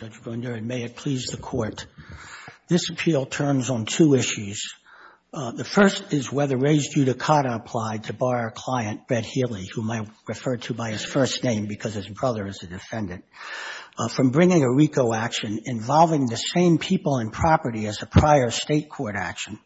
and may it please the Court. This appeal turns on two issues. The first is whether Rai's judicata applied to bar a client, Brett Healy, whom I referred to by his first name because his brother is a defendant, from bringing a RICO action involving the same people and property as a prior state court action,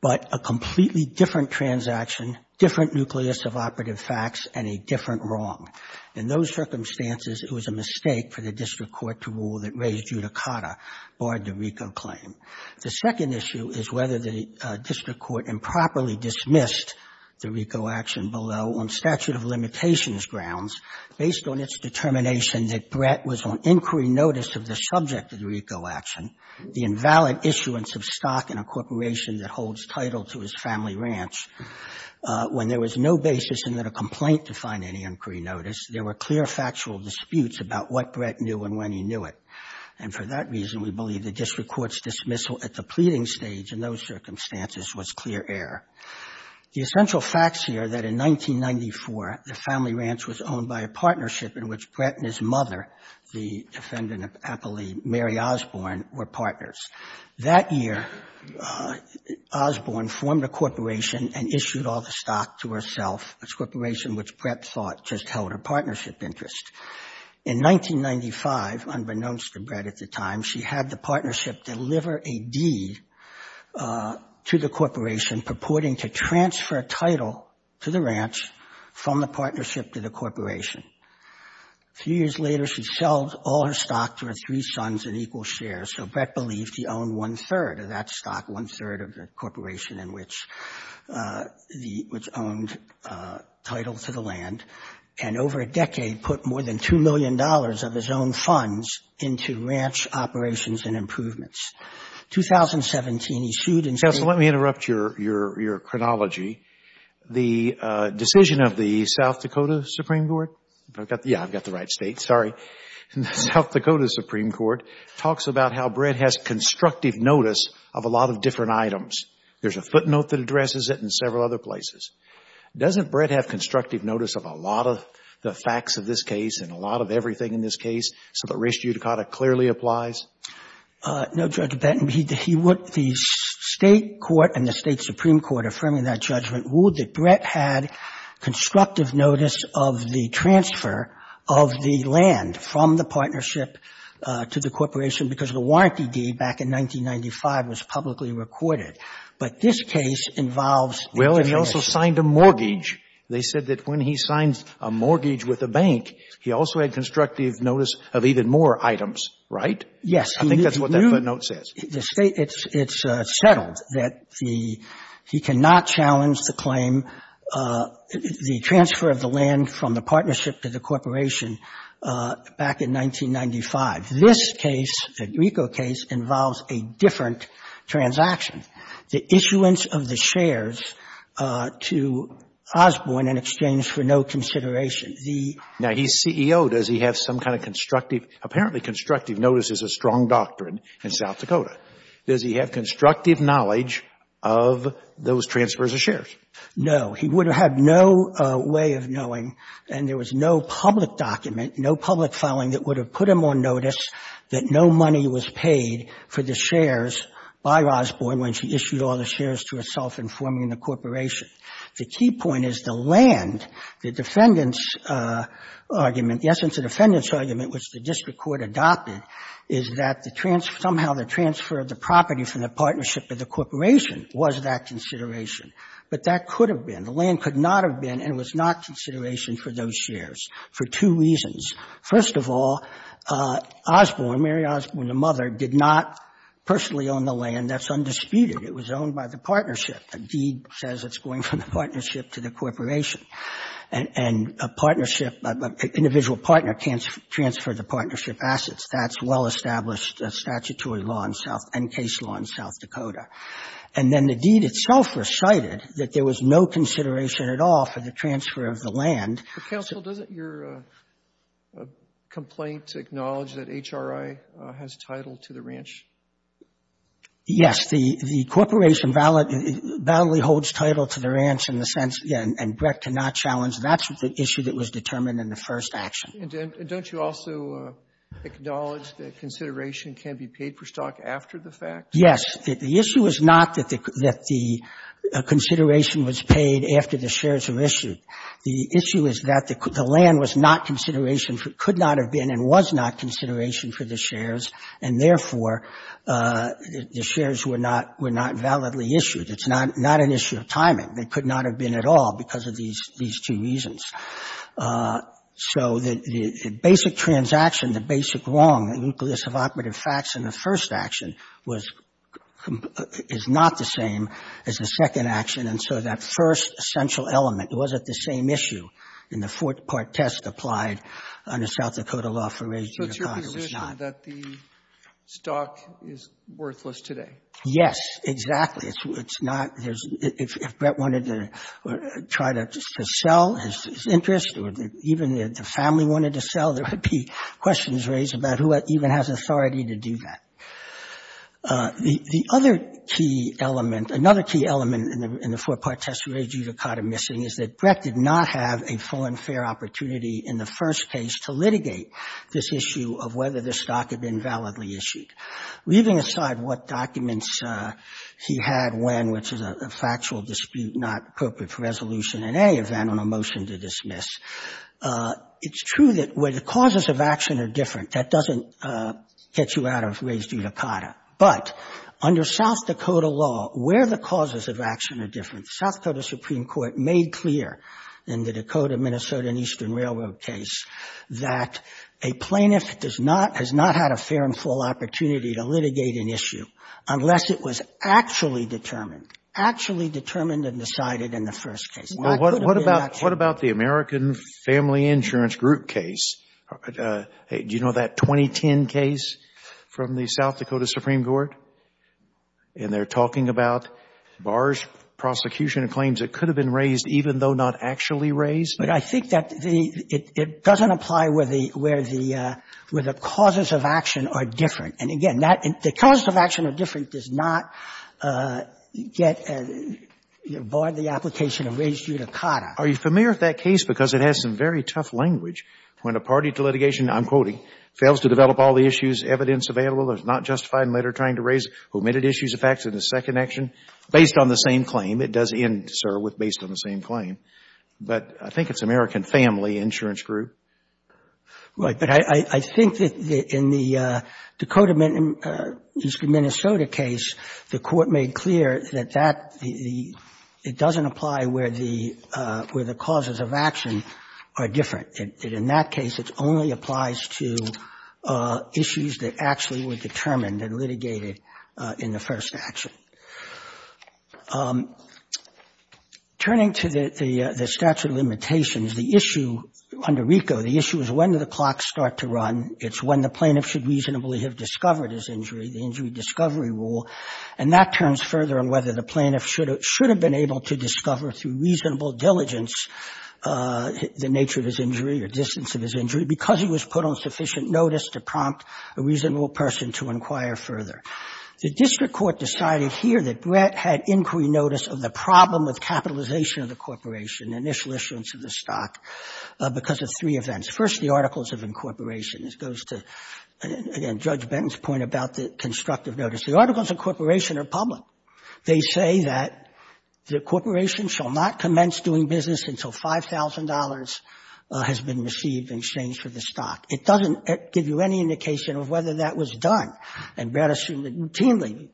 but a completely different transaction, different nucleus of operative facts, and a different wrong. In those circumstances, it was a mistake for the district court to rule that Rai's judicata barred the RICO claim. The second issue is whether the district court improperly dismissed the RICO action below on statute of limitations grounds, based on its determination that Brett was on inquiry notice of the subject of the RICO action, the invalid issuance of stock in a corporation that holds title to his family ranch, when there was no basis in that a complaint defined any inquiry notice, there were clear factual disputes about what Brett knew and when he knew it. And for that reason, we believe the district court's dismissal at the pleading stage in those circumstances was clear error. The essential facts here that in 1994, the family ranch was owned by a partnership in which Brett and his mother, the defendant appellee Mary Osborne, were partners. That year, Osborne formed a corporation and issued all the stock to herself, a corporation which Brett thought just held her partnership interest. In 1995, unbeknownst to Brett at the time, she had the partnership deliver a deed to the corporation purporting to transfer a title to the ranch from the partnership to the corporation. A few years later, she sold all her stock to her three sons in equal shares, so Brett believed he owned one-third of that stock, one-third of the corporation in which he owned title to the land, and over a decade put more than $2 million of his own funds into ranch operations and improvements. In 2017, he sued and said Justice, let me interrupt your chronology. The decision of the South Dakota Supreme Court – yeah, I've got the right state, sorry – the South Dakota Supreme Court talks about how Brett has constructive notice of a lot of different items. There's a footnote that addresses it and several other places. Doesn't Brett have constructive notice of a lot of the facts of this case and a lot of everything in this case so that res judicata clearly applies? No, Judge Benton. He would – the State court and the State Supreme Court affirming that judgment ruled that Brett had constructive notice of the transfer of the land from the warranty deed back in 1995 was publicly recorded. But this case involves Well, he also signed a mortgage. They said that when he signed a mortgage with a bank, he also had constructive notice of even more items, right? Yes. I think that's what that footnote says. The State – it's settled that the – he cannot challenge the claim, the transfer of the land from the partnership to the corporation back in 1995. This case, the Grieco case, involves a different transaction, the issuance of the shares to Osborne in exchange for no consideration. The Now, he's CEO. Does he have some kind of constructive – apparently constructive notice is a strong doctrine in South Dakota. Does he have constructive knowledge of those transfers of shares? No. He would have had no way of knowing, and there was no public document, no public filing that would have put him on notice that no money was paid for the shares by Osborne when she issued all the shares to herself in forming the corporation. The key point is the land, the defendant's argument, the essence of the defendant's argument which the district court adopted, is that the transfer – somehow the transfer of the property from the partnership to the corporation was that consideration, but that could have been. The land could not have been and was not consideration for those shares for two reasons. First of all, Osborne, Mary Osborne, the mother, did not personally own the land. That's undisputed. It was owned by the partnership. The deed says it's going from the partnership to the corporation, and a partnership – an individual partner can't transfer the partnership assets. That's well-established statutory law in South – and case law in South Dakota. And then the deed itself recited that there was no consideration at all for the transfer of the land. But, counsel, doesn't your complaint acknowledge that HRI has title to the ranch? Yes. The corporation valid – validly holds title to the ranch in the sense – and Brett cannot challenge that. That's the issue that was determined in the first action. And don't you also acknowledge that consideration can be paid for stock after the fact? Yes. The issue is not that the consideration was paid after the shares were issued. The issue is that the land was not consideration – could not have been and was not consideration for the shares, and therefore, the shares were not – were not validly issued. It's not an issue of timing. They could not have been at all because of these two reasons. So the basic transaction, the basic wrong, the nucleus of operative facts in the first action was – is not the same as the second action. And so that first essential element wasn't the same issue in the four-part test applied under South Dakota law for raising the bond. It was not. So it's your position that the stock is worthless today? Yes, exactly. It's not – there's – if Brett wanted to try to sell his interest or even if the family wanted to sell, there would be questions raised about who even has authority to do that. The other key element – another key element in the four-part test raised due to Cotter missing is that Brett did not have a full and fair opportunity in the first case to litigate this issue of whether the stock had been validly issued. Leaving aside what documents he had when, which is a factual dispute not appropriate for resolution in any event on a motion to dismiss, it's true that where the causes of action are different, that doesn't get you out of ways due to Cotter. But under South Dakota law, where the causes of action are different, the South Dakota Supreme Court made clear in the Dakota, Minnesota, and Eastern Railroad case that a plaintiff does not – has not had a fair and full opportunity to litigate an issue unless it was actually determined – actually determined and decided in the first case. Well, what about – what about the American Family Insurance Group case? Do you know that 2010 case from the South Dakota Supreme Court? And they're talking about bars, prosecution and claims that could have been raised even though not actually raised? But I think that the – it doesn't apply where the – where the – where the causes of action are different. And, again, that – the causes of action are different does not get – bar the application of raised due to Cotter. Are you familiar with that case? Because it has some very tough language. When a party to litigation, I'm quoting, fails to develop all the issues, evidence available, is not justified in later trying to raise omitted issues of facts in the second action, based on the same claim, it does end, sir, with based on the same claim. But I think it's American Family Insurance Group. Right. But I think that in the Dakota – Minnesota case, the court made clear that that – the – it doesn't apply where the – where the causes of action are different. In that case, it only applies to issues that actually were determined and litigated in the first action. Turning to the statute of limitations, the issue under RICO, the issue is when do the clocks start to run. It's when the plaintiff should reasonably have discovered his injury, the injury discovery rule. And that turns further on whether the plaintiff should have – should have been able to discover through reasonable diligence the nature of his injury or distance of his injury because he was put on sufficient notice to prompt a reasonable person to inquire further. The district court decided here that Brett had inquiry notice of the problem with capitalization of the corporation, initial issuance of the stock, because of three events. First, the articles of incorporation. This goes to, again, Judge Benton's point about the constructive notice. The articles of incorporation are public. They say that the corporation shall not commence doing business until $5,000 has been received in exchange for the stock. It doesn't give you any indication of whether that was done. And Brett assumed that routinely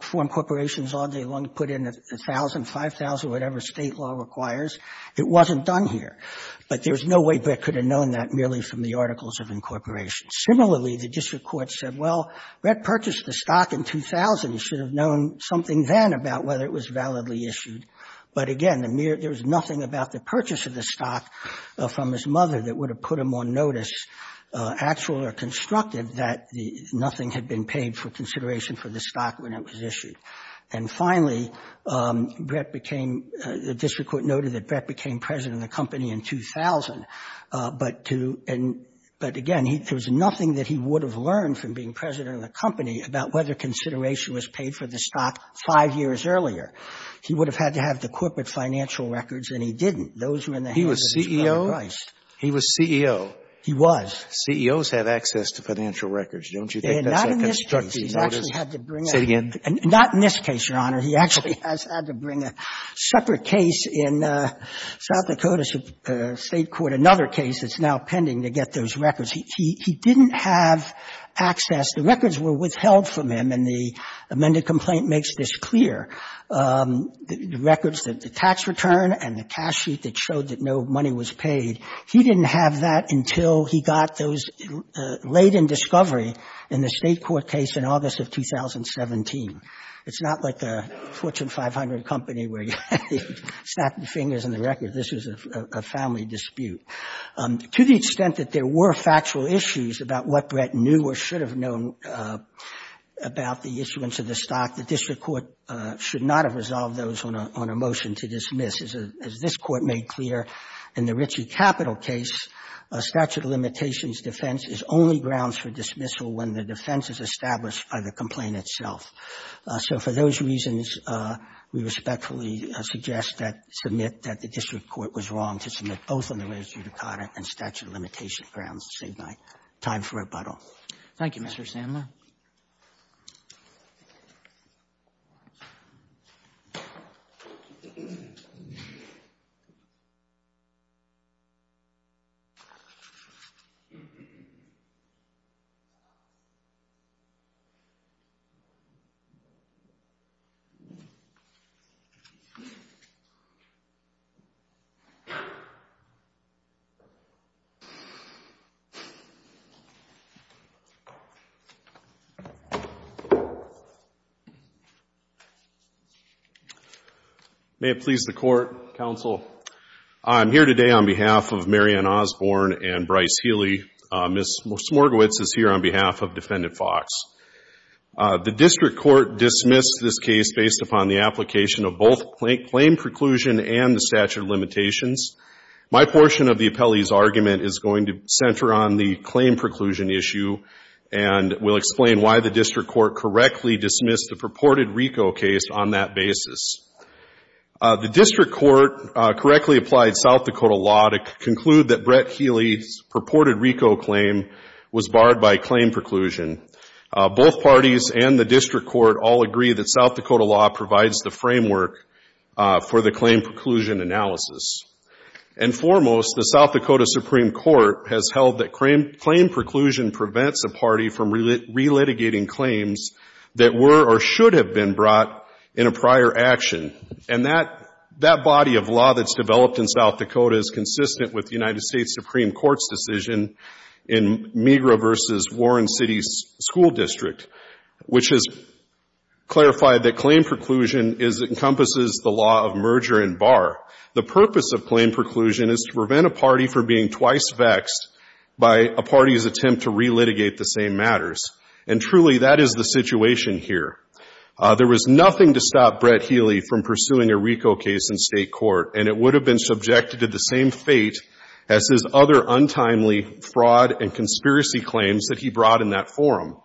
foreign corporations all day long put in $1,000, $5,000, whatever state law requires. It wasn't done here. But there's no way Brett could have known that merely from the articles of incorporation. Similarly, the district court said, well, Brett purchased the stock in 2000. He should have known something then about whether it was validly issued. But again, there was nothing about the purchase of the stock from his mother that would have put him on notice, actual or constructive, that nothing had been paid for consideration for the stock when it was issued. And finally, Brett became, the district court noted that Brett became president of the company in 2000. But to, but again, there was nothing that he would have learned from being president of the company about whether consideration was paid for the stock five years earlier. He would have had to have the corporate financial records, and he didn't. Those were in the hands of his father, Christ. He was CEO? He was. CEOs have access to financial records. Don't you think that's a constructive notice? Not in this case. He's actually had to bring a separate case in South Dakota State Court, another case that's now pending to get those records. He didn't have access to them. The records were withheld from him, and the amended complaint makes this clear. The records, the tax return and the cash sheet that showed that no money was paid, he didn't have that until he got those late in discovery in the State Court case in August of 2017. It's not like a Fortune 500 company where you snap your fingers in the record. This was a family dispute. To the extent that there were factual issues about what Brett knew or should have known about the issuance of the stock, the district court should not have resolved those on a motion to dismiss. As this Court made clear in the Ritchie Capital case, a statute of limitations defense is only grounds for dismissal when the defense is established by the complaint itself. So for those reasons, we respectfully suggest that the district court was wrong to submit both on the raised-judicata and statute of limitations grounds. I'll save my time for rebuttal. Thank you, Mr. Sandler. May it please the Court, Counsel. I'm here today on behalf of Marian Osborne and Bryce Healy. Ms. Smorgowitz is here on behalf of Defendant Fox. The district court dismissed this case based upon the application of both claim preclusion and the statute of limitations. My portion of the appellee's argument is going to center on the claim preclusion issue and will explain why the district court correctly dismissed the purported RICO case on that basis. The district court correctly applied South Dakota law to conclude that Brett Healy's purported RICO claim was barred by claim preclusion. Both parties and the district court all agree that South Dakota law provides the framework for the claim preclusion analysis. And foremost, the South Dakota Supreme Court has held that claim preclusion prevents a party from relitigating claims that were or should have been brought in a prior action. And that body of law that's developed in South Dakota is consistent with the United States that claim preclusion encompasses the law of merger and bar. The purpose of claim preclusion is to prevent a party from being twice vexed by a party's attempt to relitigate the same matters. And truly, that is the situation here. There was nothing to stop Brett Healy from pursuing a RICO case in State court, and it would have been subjected to the same fate as his other untimely fraud and conspiracy claims that he brought in that forum.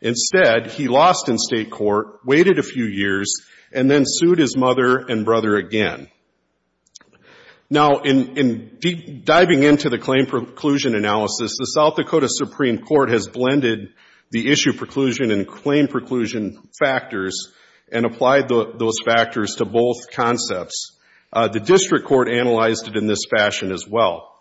Instead, he lost in State court, waited a few years, and then sued his mother and brother again. Now in diving into the claim preclusion analysis, the South Dakota Supreme Court has blended the issue preclusion and claim preclusion factors and applied those factors to both concepts. The district court analyzed it in this fashion as well.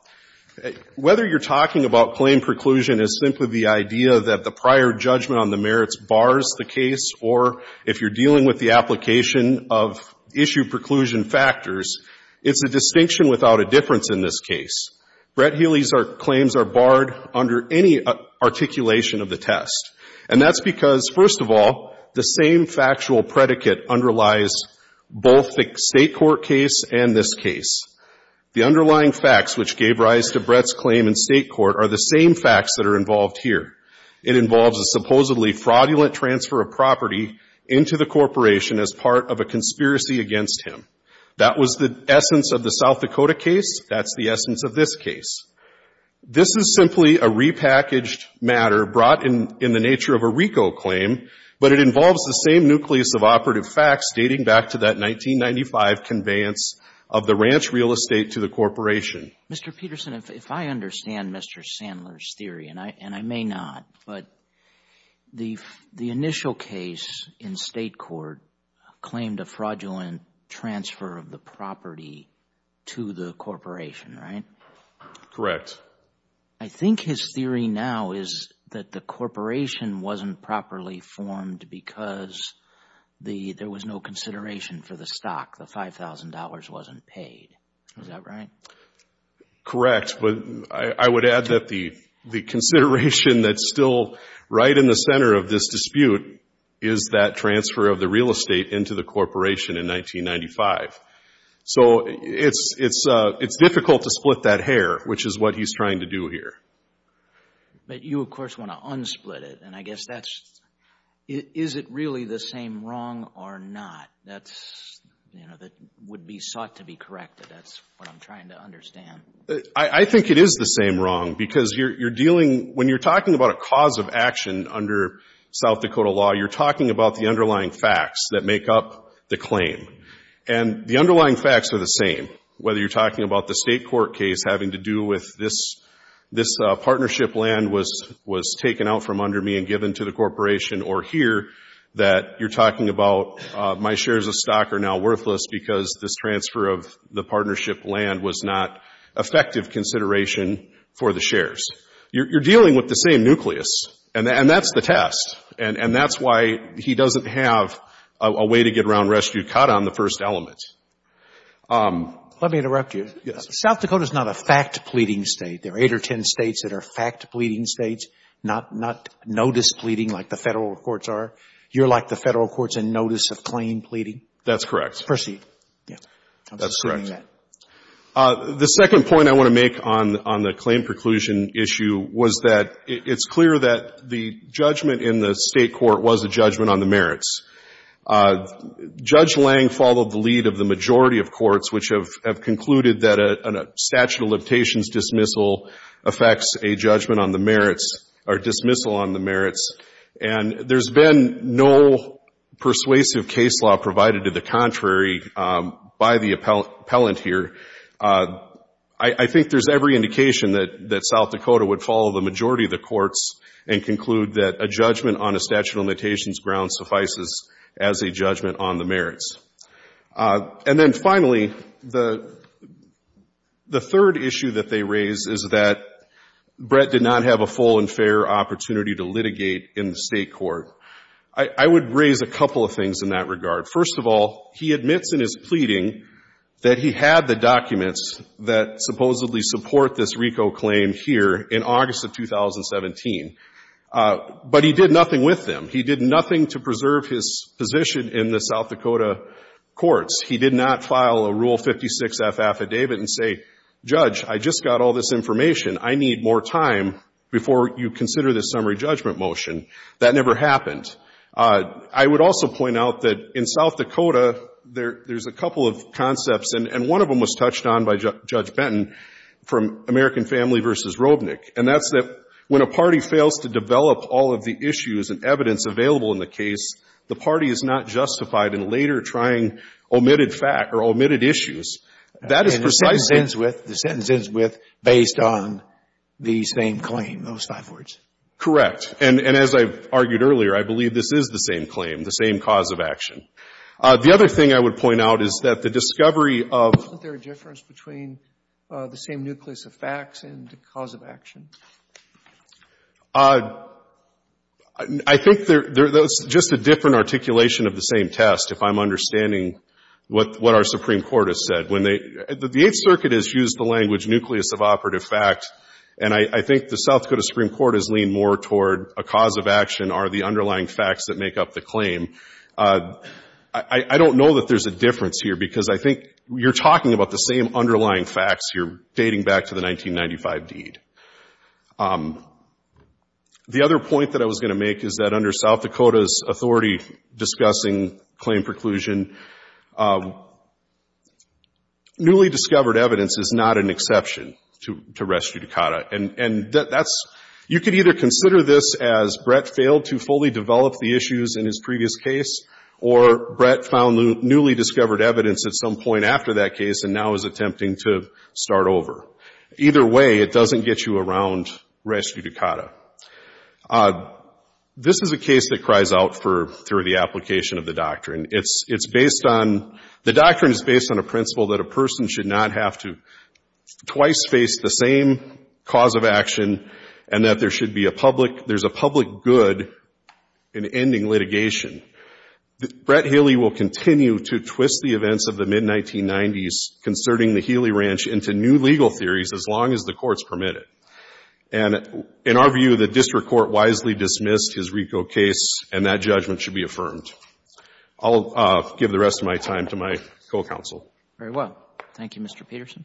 Whether you're talking about claim preclusion as simply the idea that the prior judgment on the merits bars the case or if you're dealing with the application of issue preclusion factors, it's a distinction without a difference in this case. Brett Healy's claims are barred under any articulation of the test. And that's because, first of all, the same factual predicate underlies both the State court case and this case. The underlying facts which gave rise to Brett's claim in State court are the same facts that are involved here. It involves a supposedly fraudulent transfer of property into the corporation as part of a conspiracy against him. That was the essence of the South Dakota case. That's the essence of this case. This is simply a repackaged matter brought in in the nature of a RICO claim, but it involves the same nucleus of operative facts dating back to that 1995 conveyance of the ranch real estate to the corporation. Mr. Peterson, if I understand Mr. Sandler's theory, and I may not, but the initial case in State court claimed a fraudulent transfer of the property to the corporation, right? Correct. I think his theory now is that the corporation wasn't properly formed because there was no consideration for the stock. The $5,000 wasn't paid. Is that right? Correct. But I would add that the consideration that's still right in the center of this dispute is that transfer of the real estate into the corporation in 1995. So it's difficult to split that hair, which is what he's trying to do here. But you, of course, want to unsplit it. And I guess that's, is it really the same wrong or not? That would be sought to be corrected. That's what I'm trying to understand. I think it is the same wrong because you're dealing, when you're talking about a cause of action under South Dakota law, you're talking about the underlying facts that make up the claim. And the underlying facts are the same, whether you're talking about the State court case having to do with this partnership land was taken out from under me and given to the court. My shares of stock are now worthless because this transfer of the partnership land was not effective consideration for the shares. You're dealing with the same nucleus. And that's the test. And that's why he doesn't have a way to get around rescue caught on the first element. Let me interrupt you. Yes. South Dakota is not a fact-pleading State. There are eight or ten States that are fact-pleading States, not notice-pleading like the Federal courts are. You're like the Federal courts in notice of claim pleading? That's correct. It's perceived. That's correct. I'm assuming that. The second point I want to make on the claim preclusion issue was that it's clear that the judgment in the State court was a judgment on the merits. Judge Lange followed the lead of the majority of courts which have concluded that a statute of limitations dismissal affects a judgment on the merits or dismissal on the merits. And there's been no persuasive case law provided to the contrary by the appellant here. I think there's every indication that South Dakota would follow the majority of the courts and conclude that a judgment on a statute of limitations grounds suffices as a judgment on the merits. And then finally, the third issue that they raise is that Brett did not have a full and fair opportunity to litigate in the State court. I would raise a couple of things in that regard. First of all, he admits in his pleading that he had the documents that supposedly support this RICO claim here in August of 2017. But he did nothing with them. He did nothing with the courts. He did not file a Rule 56F affidavit and say, Judge, I just got all this information. I need more time before you consider this summary judgment motion. That never happened. I would also point out that in South Dakota, there's a couple of concepts, and one of them was touched on by Judge Benton from American Family v. Robnick. And that's that when a party fails to develop all of the issues and evidence available in the case, the party is not justified in later trying omitted fact or omitted issues. That is precisely — And the sentence ends with, the sentence ends with, based on the same claim, those five words. Correct. And as I've argued earlier, I believe this is the same claim, the same cause of action. The other thing I would point out is that the discovery of — Isn't there a difference between the same nucleus of facts and the cause of action? I think there's just a different articulation of the same test, if I'm understanding what our Supreme Court has said. When they — the Eighth Circuit has used the language nucleus of operative fact, and I think the South Dakota Supreme Court has leaned more toward a cause of action are the underlying facts that make up the claim. I don't know that there's a difference here, because I think you're talking about the same underlying facts here, dating back to the 1995 deed. The other point that I was going to make is that under South Dakota's authority discussing claim preclusion, newly discovered evidence is not an exception to rest judicata. And that's — you could either consider this as Brett failed to fully develop the issues in his previous case, or Brett found newly discovered evidence at some point and now is attempting to start over. Either way, it doesn't get you around rest judicata. This is a case that cries out for — through the application of the doctrine. It's based on — the doctrine is based on a principle that a person should not have to twice face the same cause of action, and that there should be a public — there's a public good in ending litigation. Brett Healy will continue to twist the events of the mid-1990s concerning the Healy Ranch into new legal theories as long as the courts permit it. And in our view, the district court wisely dismissed his RICO case, and that judgment should be affirmed. I'll give the rest of my time to my co-counsel. Very well. Thank you, Mr. Peterson.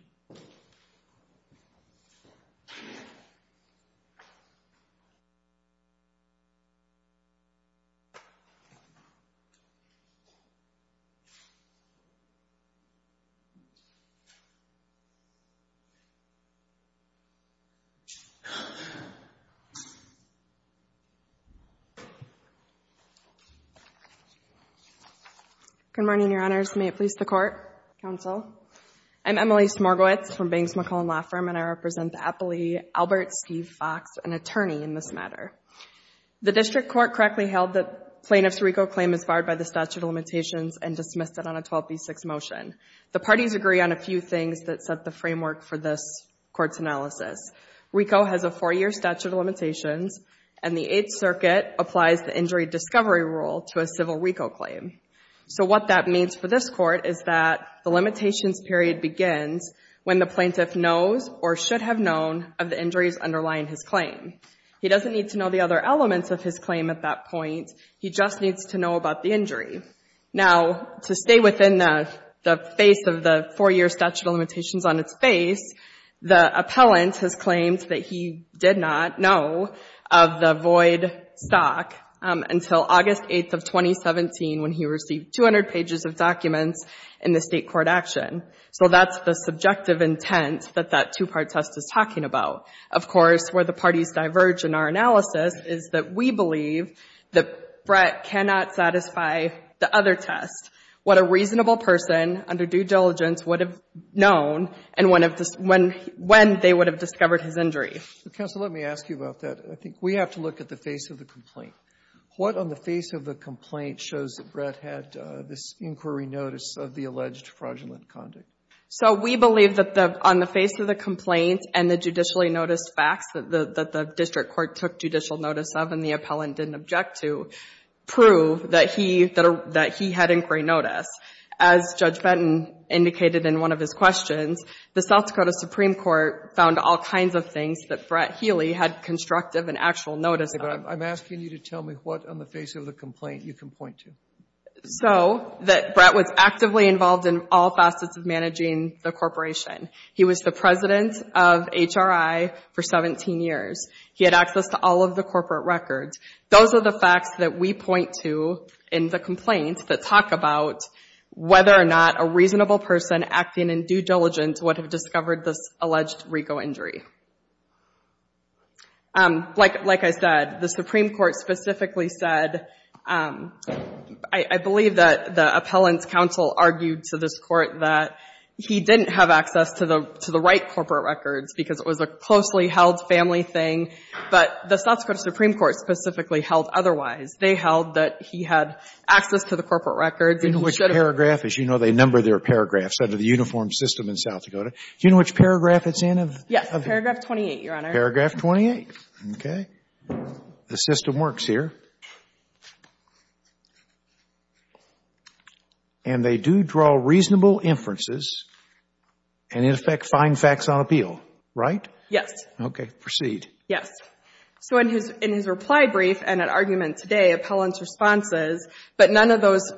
Good morning, Your Honors. May it please the Court, Counsel. I'm Emily Smorgowitz from Banks McClellan Law Firm, and I represent the appellee Albert Steve Fox, an attorney in this matter. The district court correctly held that plaintiff's RICO claim is barred by the statute of limitations and dismissed it on a 12b6 motion. The parties agree on a few things that set the framework for this Court's analysis. RICO has a four-year statute of limitations, and the Eighth Circuit applies the injury discovery rule to a civil RICO claim. So what that means for this Court is that the limitations period begins when the plaintiff is acquitted. He doesn't need to know the other elements of his claim at that point. He just needs to know about the injury. Now, to stay within the face of the four-year statute of limitations on its face, the appellant has claimed that he did not know of the void stock until August 8th of 2017, when he received 200 pages of documents in the state court action. So that's the subjective intent that that two-part test is talking about. Of course, where the parties diverge in our analysis is that we believe that Brett cannot satisfy the other test, what a reasonable person under due diligence would have known and when they would have discovered his injury. Robertson, let me ask you about that. I think we have to look at the face of the complaint. What on the face of the complaint shows that Brett had this inquiry notice of the alleged fraudulent conduct? So we believe that on the face of the complaint and the judicially noticed facts that the district court took judicial notice of and the appellant didn't object to prove that he had inquiry notice. As Judge Benton indicated in one of his questions, the South Dakota Supreme Court found all kinds of things that Brett Healy had constructive and actual notice of. I'm asking you to tell me what on the face of the complaint you can point to. So that Brett was actively involved in all facets of managing the corporation. He was the president of HRI for 17 years. He had access to all of the corporate records. Those are the facts that we point to in the complaint that talk about whether or not a reasonable person acting in due diligence would have discovered this alleged RICO injury. Like I said, the Supreme Court specifically said, I believe that the appellant's counsel argued to this court that he didn't have access to the right corporate records because it was a closely held family thing. But the South Dakota Supreme Court specifically held otherwise. They held that he had access to the corporate records. Do you know which paragraph? As you know, they number their paragraphs under the uniform system in South Dakota. Do you know which paragraph it's in? Yes. Paragraph 28, Your Honor. Paragraph 28. Okay. The system works here. And they do draw reasonable inferences and, in effect, find facts on appeal, right? Yes. Okay. Proceed. Yes. So in his reply brief and at argument today, appellant's response is, but none of those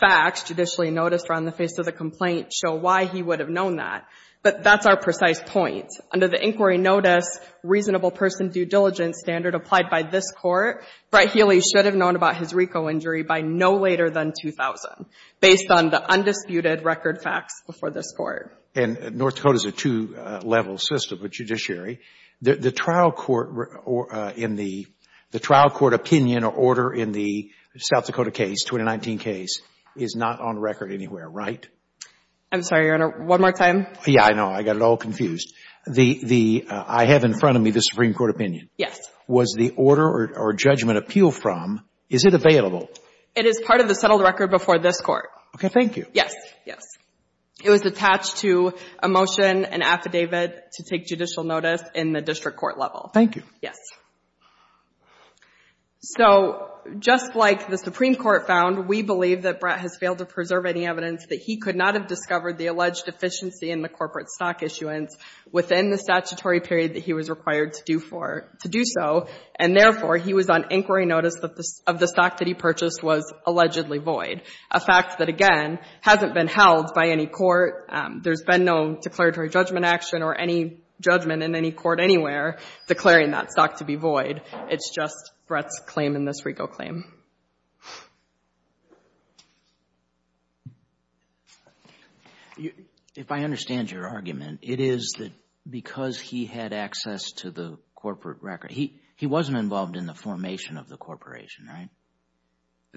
facts judicially noticed or on the face of the complaint show why he would have known that. But that's our precise point. Under the inquiry notice, reasonable person due diligence standard applied by this court, Brett Healy should have known about his RICO injury by no later than 2000, based on the undisputed record facts before this court. And North Dakota's a two-level system of judiciary. The trial court opinion or order in the South Dakota case, 2019 case, is not on record anywhere, right? I'm sorry, Your Honor. One more time. Yeah, I know. I got it all confused. The, I have in front of me the Supreme Court opinion. Yes. Was the order or judgment appeal from, is it available? It is part of the settled record before this court. Okay. Thank you. Yes. Yes. It was attached to a motion, an affidavit to take judicial notice in the district court level. Thank you. Yes. So just like the Supreme Court found, we believe that Brett has failed to discover the alleged deficiency in the corporate stock issuance within the statutory period that he was required to do for, to do so. And therefore, he was on inquiry notice of the stock that he purchased was allegedly void. A fact that, again, hasn't been held by any court. There's been no declaratory judgment action or any judgment in any court anywhere declaring that stock to be void. It's just Brett's claim in this RICO claim. If I understand your argument, it is that because he had access to the corporate record, he, he wasn't involved in the formation of the corporation, right?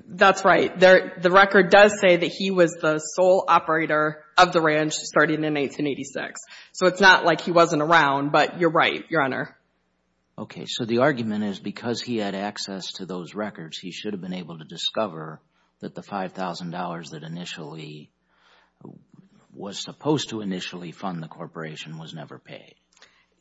That's right. There, the record does say that he was the sole operator of the ranch starting in 1886. So it's not like he wasn't around, but you're right, Your Honor. Okay. So the argument is because he had access to those records, he should have been able to discover that the $5,000 that initially was supposed to initially fund the corporation was never paid.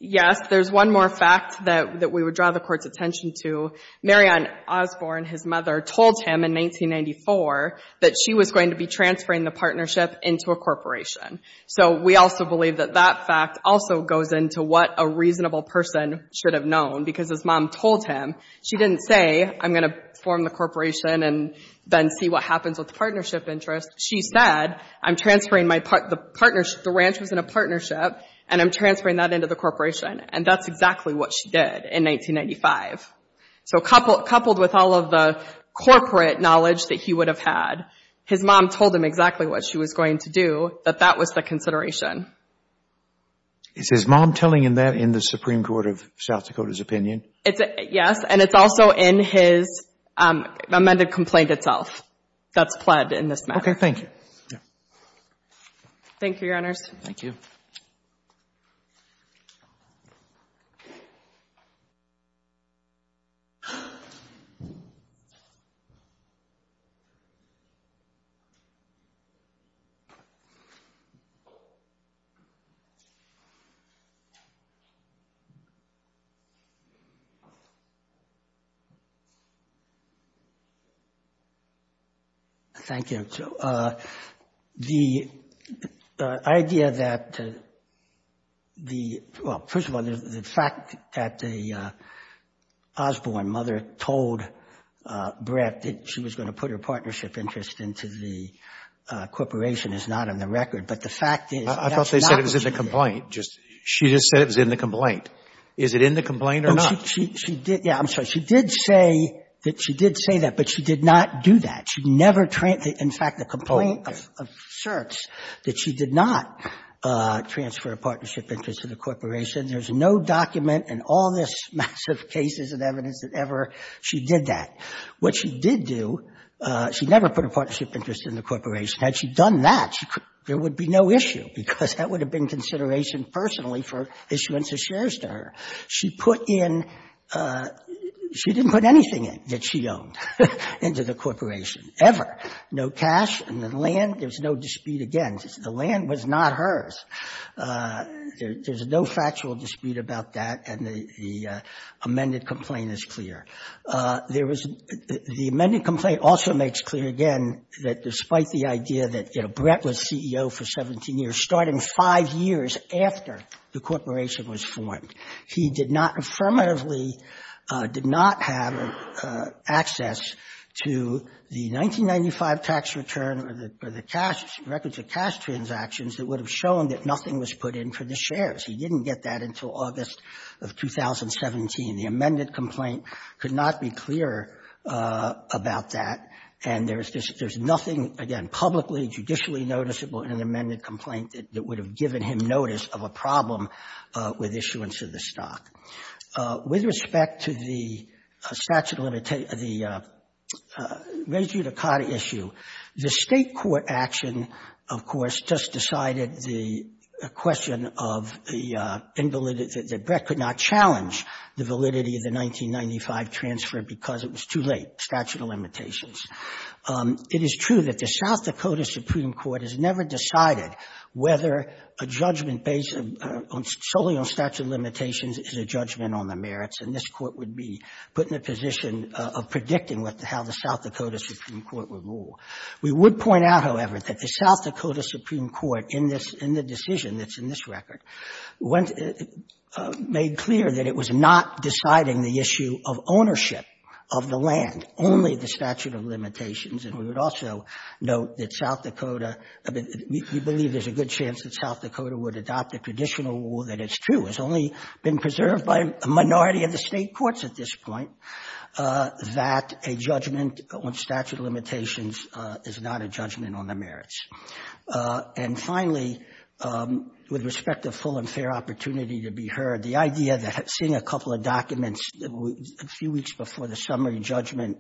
Yes. There's one more fact that, that we would draw the court's attention to. Marion Osborne, his mother, told him in 1994 that she was going to be transferring the partnership into a corporation. So we also believe that that fact also goes into what a reasonable person should have known. Because his mom told him, she didn't say, I'm going to form the corporation and then see what happens with the partnership interest. She said, I'm transferring my part, the partnership, the ranch was in a partnership, and I'm transferring that into the corporation. And that's exactly what she did in 1995. So coupled, coupled with all of the corporate knowledge that he would have had, his mom told him exactly what she was going to do, that that was the consideration. Is his mom telling him that in the Supreme Court of South Dakota's opinion? Yes. And it's also in his amended complaint itself that's pled in this matter. Okay. Thank you. Thank you, Your Honors. Thank you. Thank you. The idea that the, well, first of all, the fact that the Osborne mother told Brett that she was going to put her partnership interest into the corporation is not on the record. But the fact is, that's not what she did. I thought they said it was in the complaint. She just said it was in the complaint. Is it in the complaint or not? She did, yeah, I'm sorry. She did say that. But she did not do that. She never, in fact, the complaint asserts that she did not transfer a partnership interest to the corporation. There's no document in all this massive cases and evidence that ever she did that. What she did do, she never put a partnership interest in the corporation. Had she done that, there would be no issue, because that would have been consideration personally for issuance of shares to her. She put in, she didn't put anything in that she owned into the corporation, ever. No cash, and then land, there's no dispute again. The land was not hers. There's no factual dispute about that, and the amended complaint is clear. There was, the amended complaint also makes clear again that despite the idea that Brett was CEO for 17 years, starting five years after the corporation was formed, he did not affirmatively, did not have access to the 1995 tax return or the cash, records of cash transactions that would have shown that nothing was put in for the corporation, could not be clear about that, and there's nothing, again, publicly, judicially noticeable in an amended complaint that would have given him notice of a problem with issuance of the stock. With respect to the statute of limitations, the res judicata issue, the State court action, of course, just decided the question of the invalidity, that Brett could not transfer because it was too late, statute of limitations. It is true that the South Dakota Supreme Court has never decided whether a judgment based solely on statute of limitations is a judgment on the merits, and this court would be put in a position of predicting what the, how the South Dakota Supreme Court would rule. We would point out, however, that the South Dakota Supreme Court in this, in the decision that's in this record, made clear that it was not deciding the issue of ownership of the land, only the statute of limitations, and we would also note that South Dakota, we believe there's a good chance that South Dakota would adopt the traditional rule that it's true, it's only been preserved by a minority of the State courts at this point, that a judgment on statute of limitations is not a judgment on the merits. And finally, with respect to full and fair opportunity to be heard, the idea that seeing a couple of documents a few weeks before the summary judgment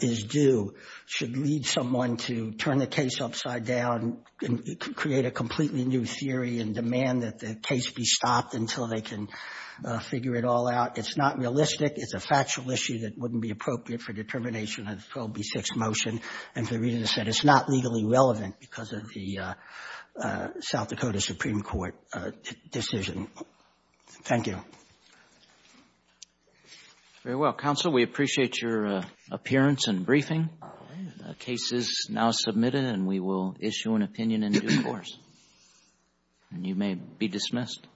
is due should lead someone to turn the case upside down and create a completely new theory and demand that the case be stopped until they can figure it all out. It's not realistic. It's a factual issue that wouldn't be appropriate for determination of the 12B6 motion. And for the reason I said, it's not legally relevant because of the South Dakota Supreme Court decision. Thank you. Roberts. Very well. Counsel, we appreciate your appearance and briefing. The case is now submitted, and we will issue an opinion in due course. And you may be dismissed.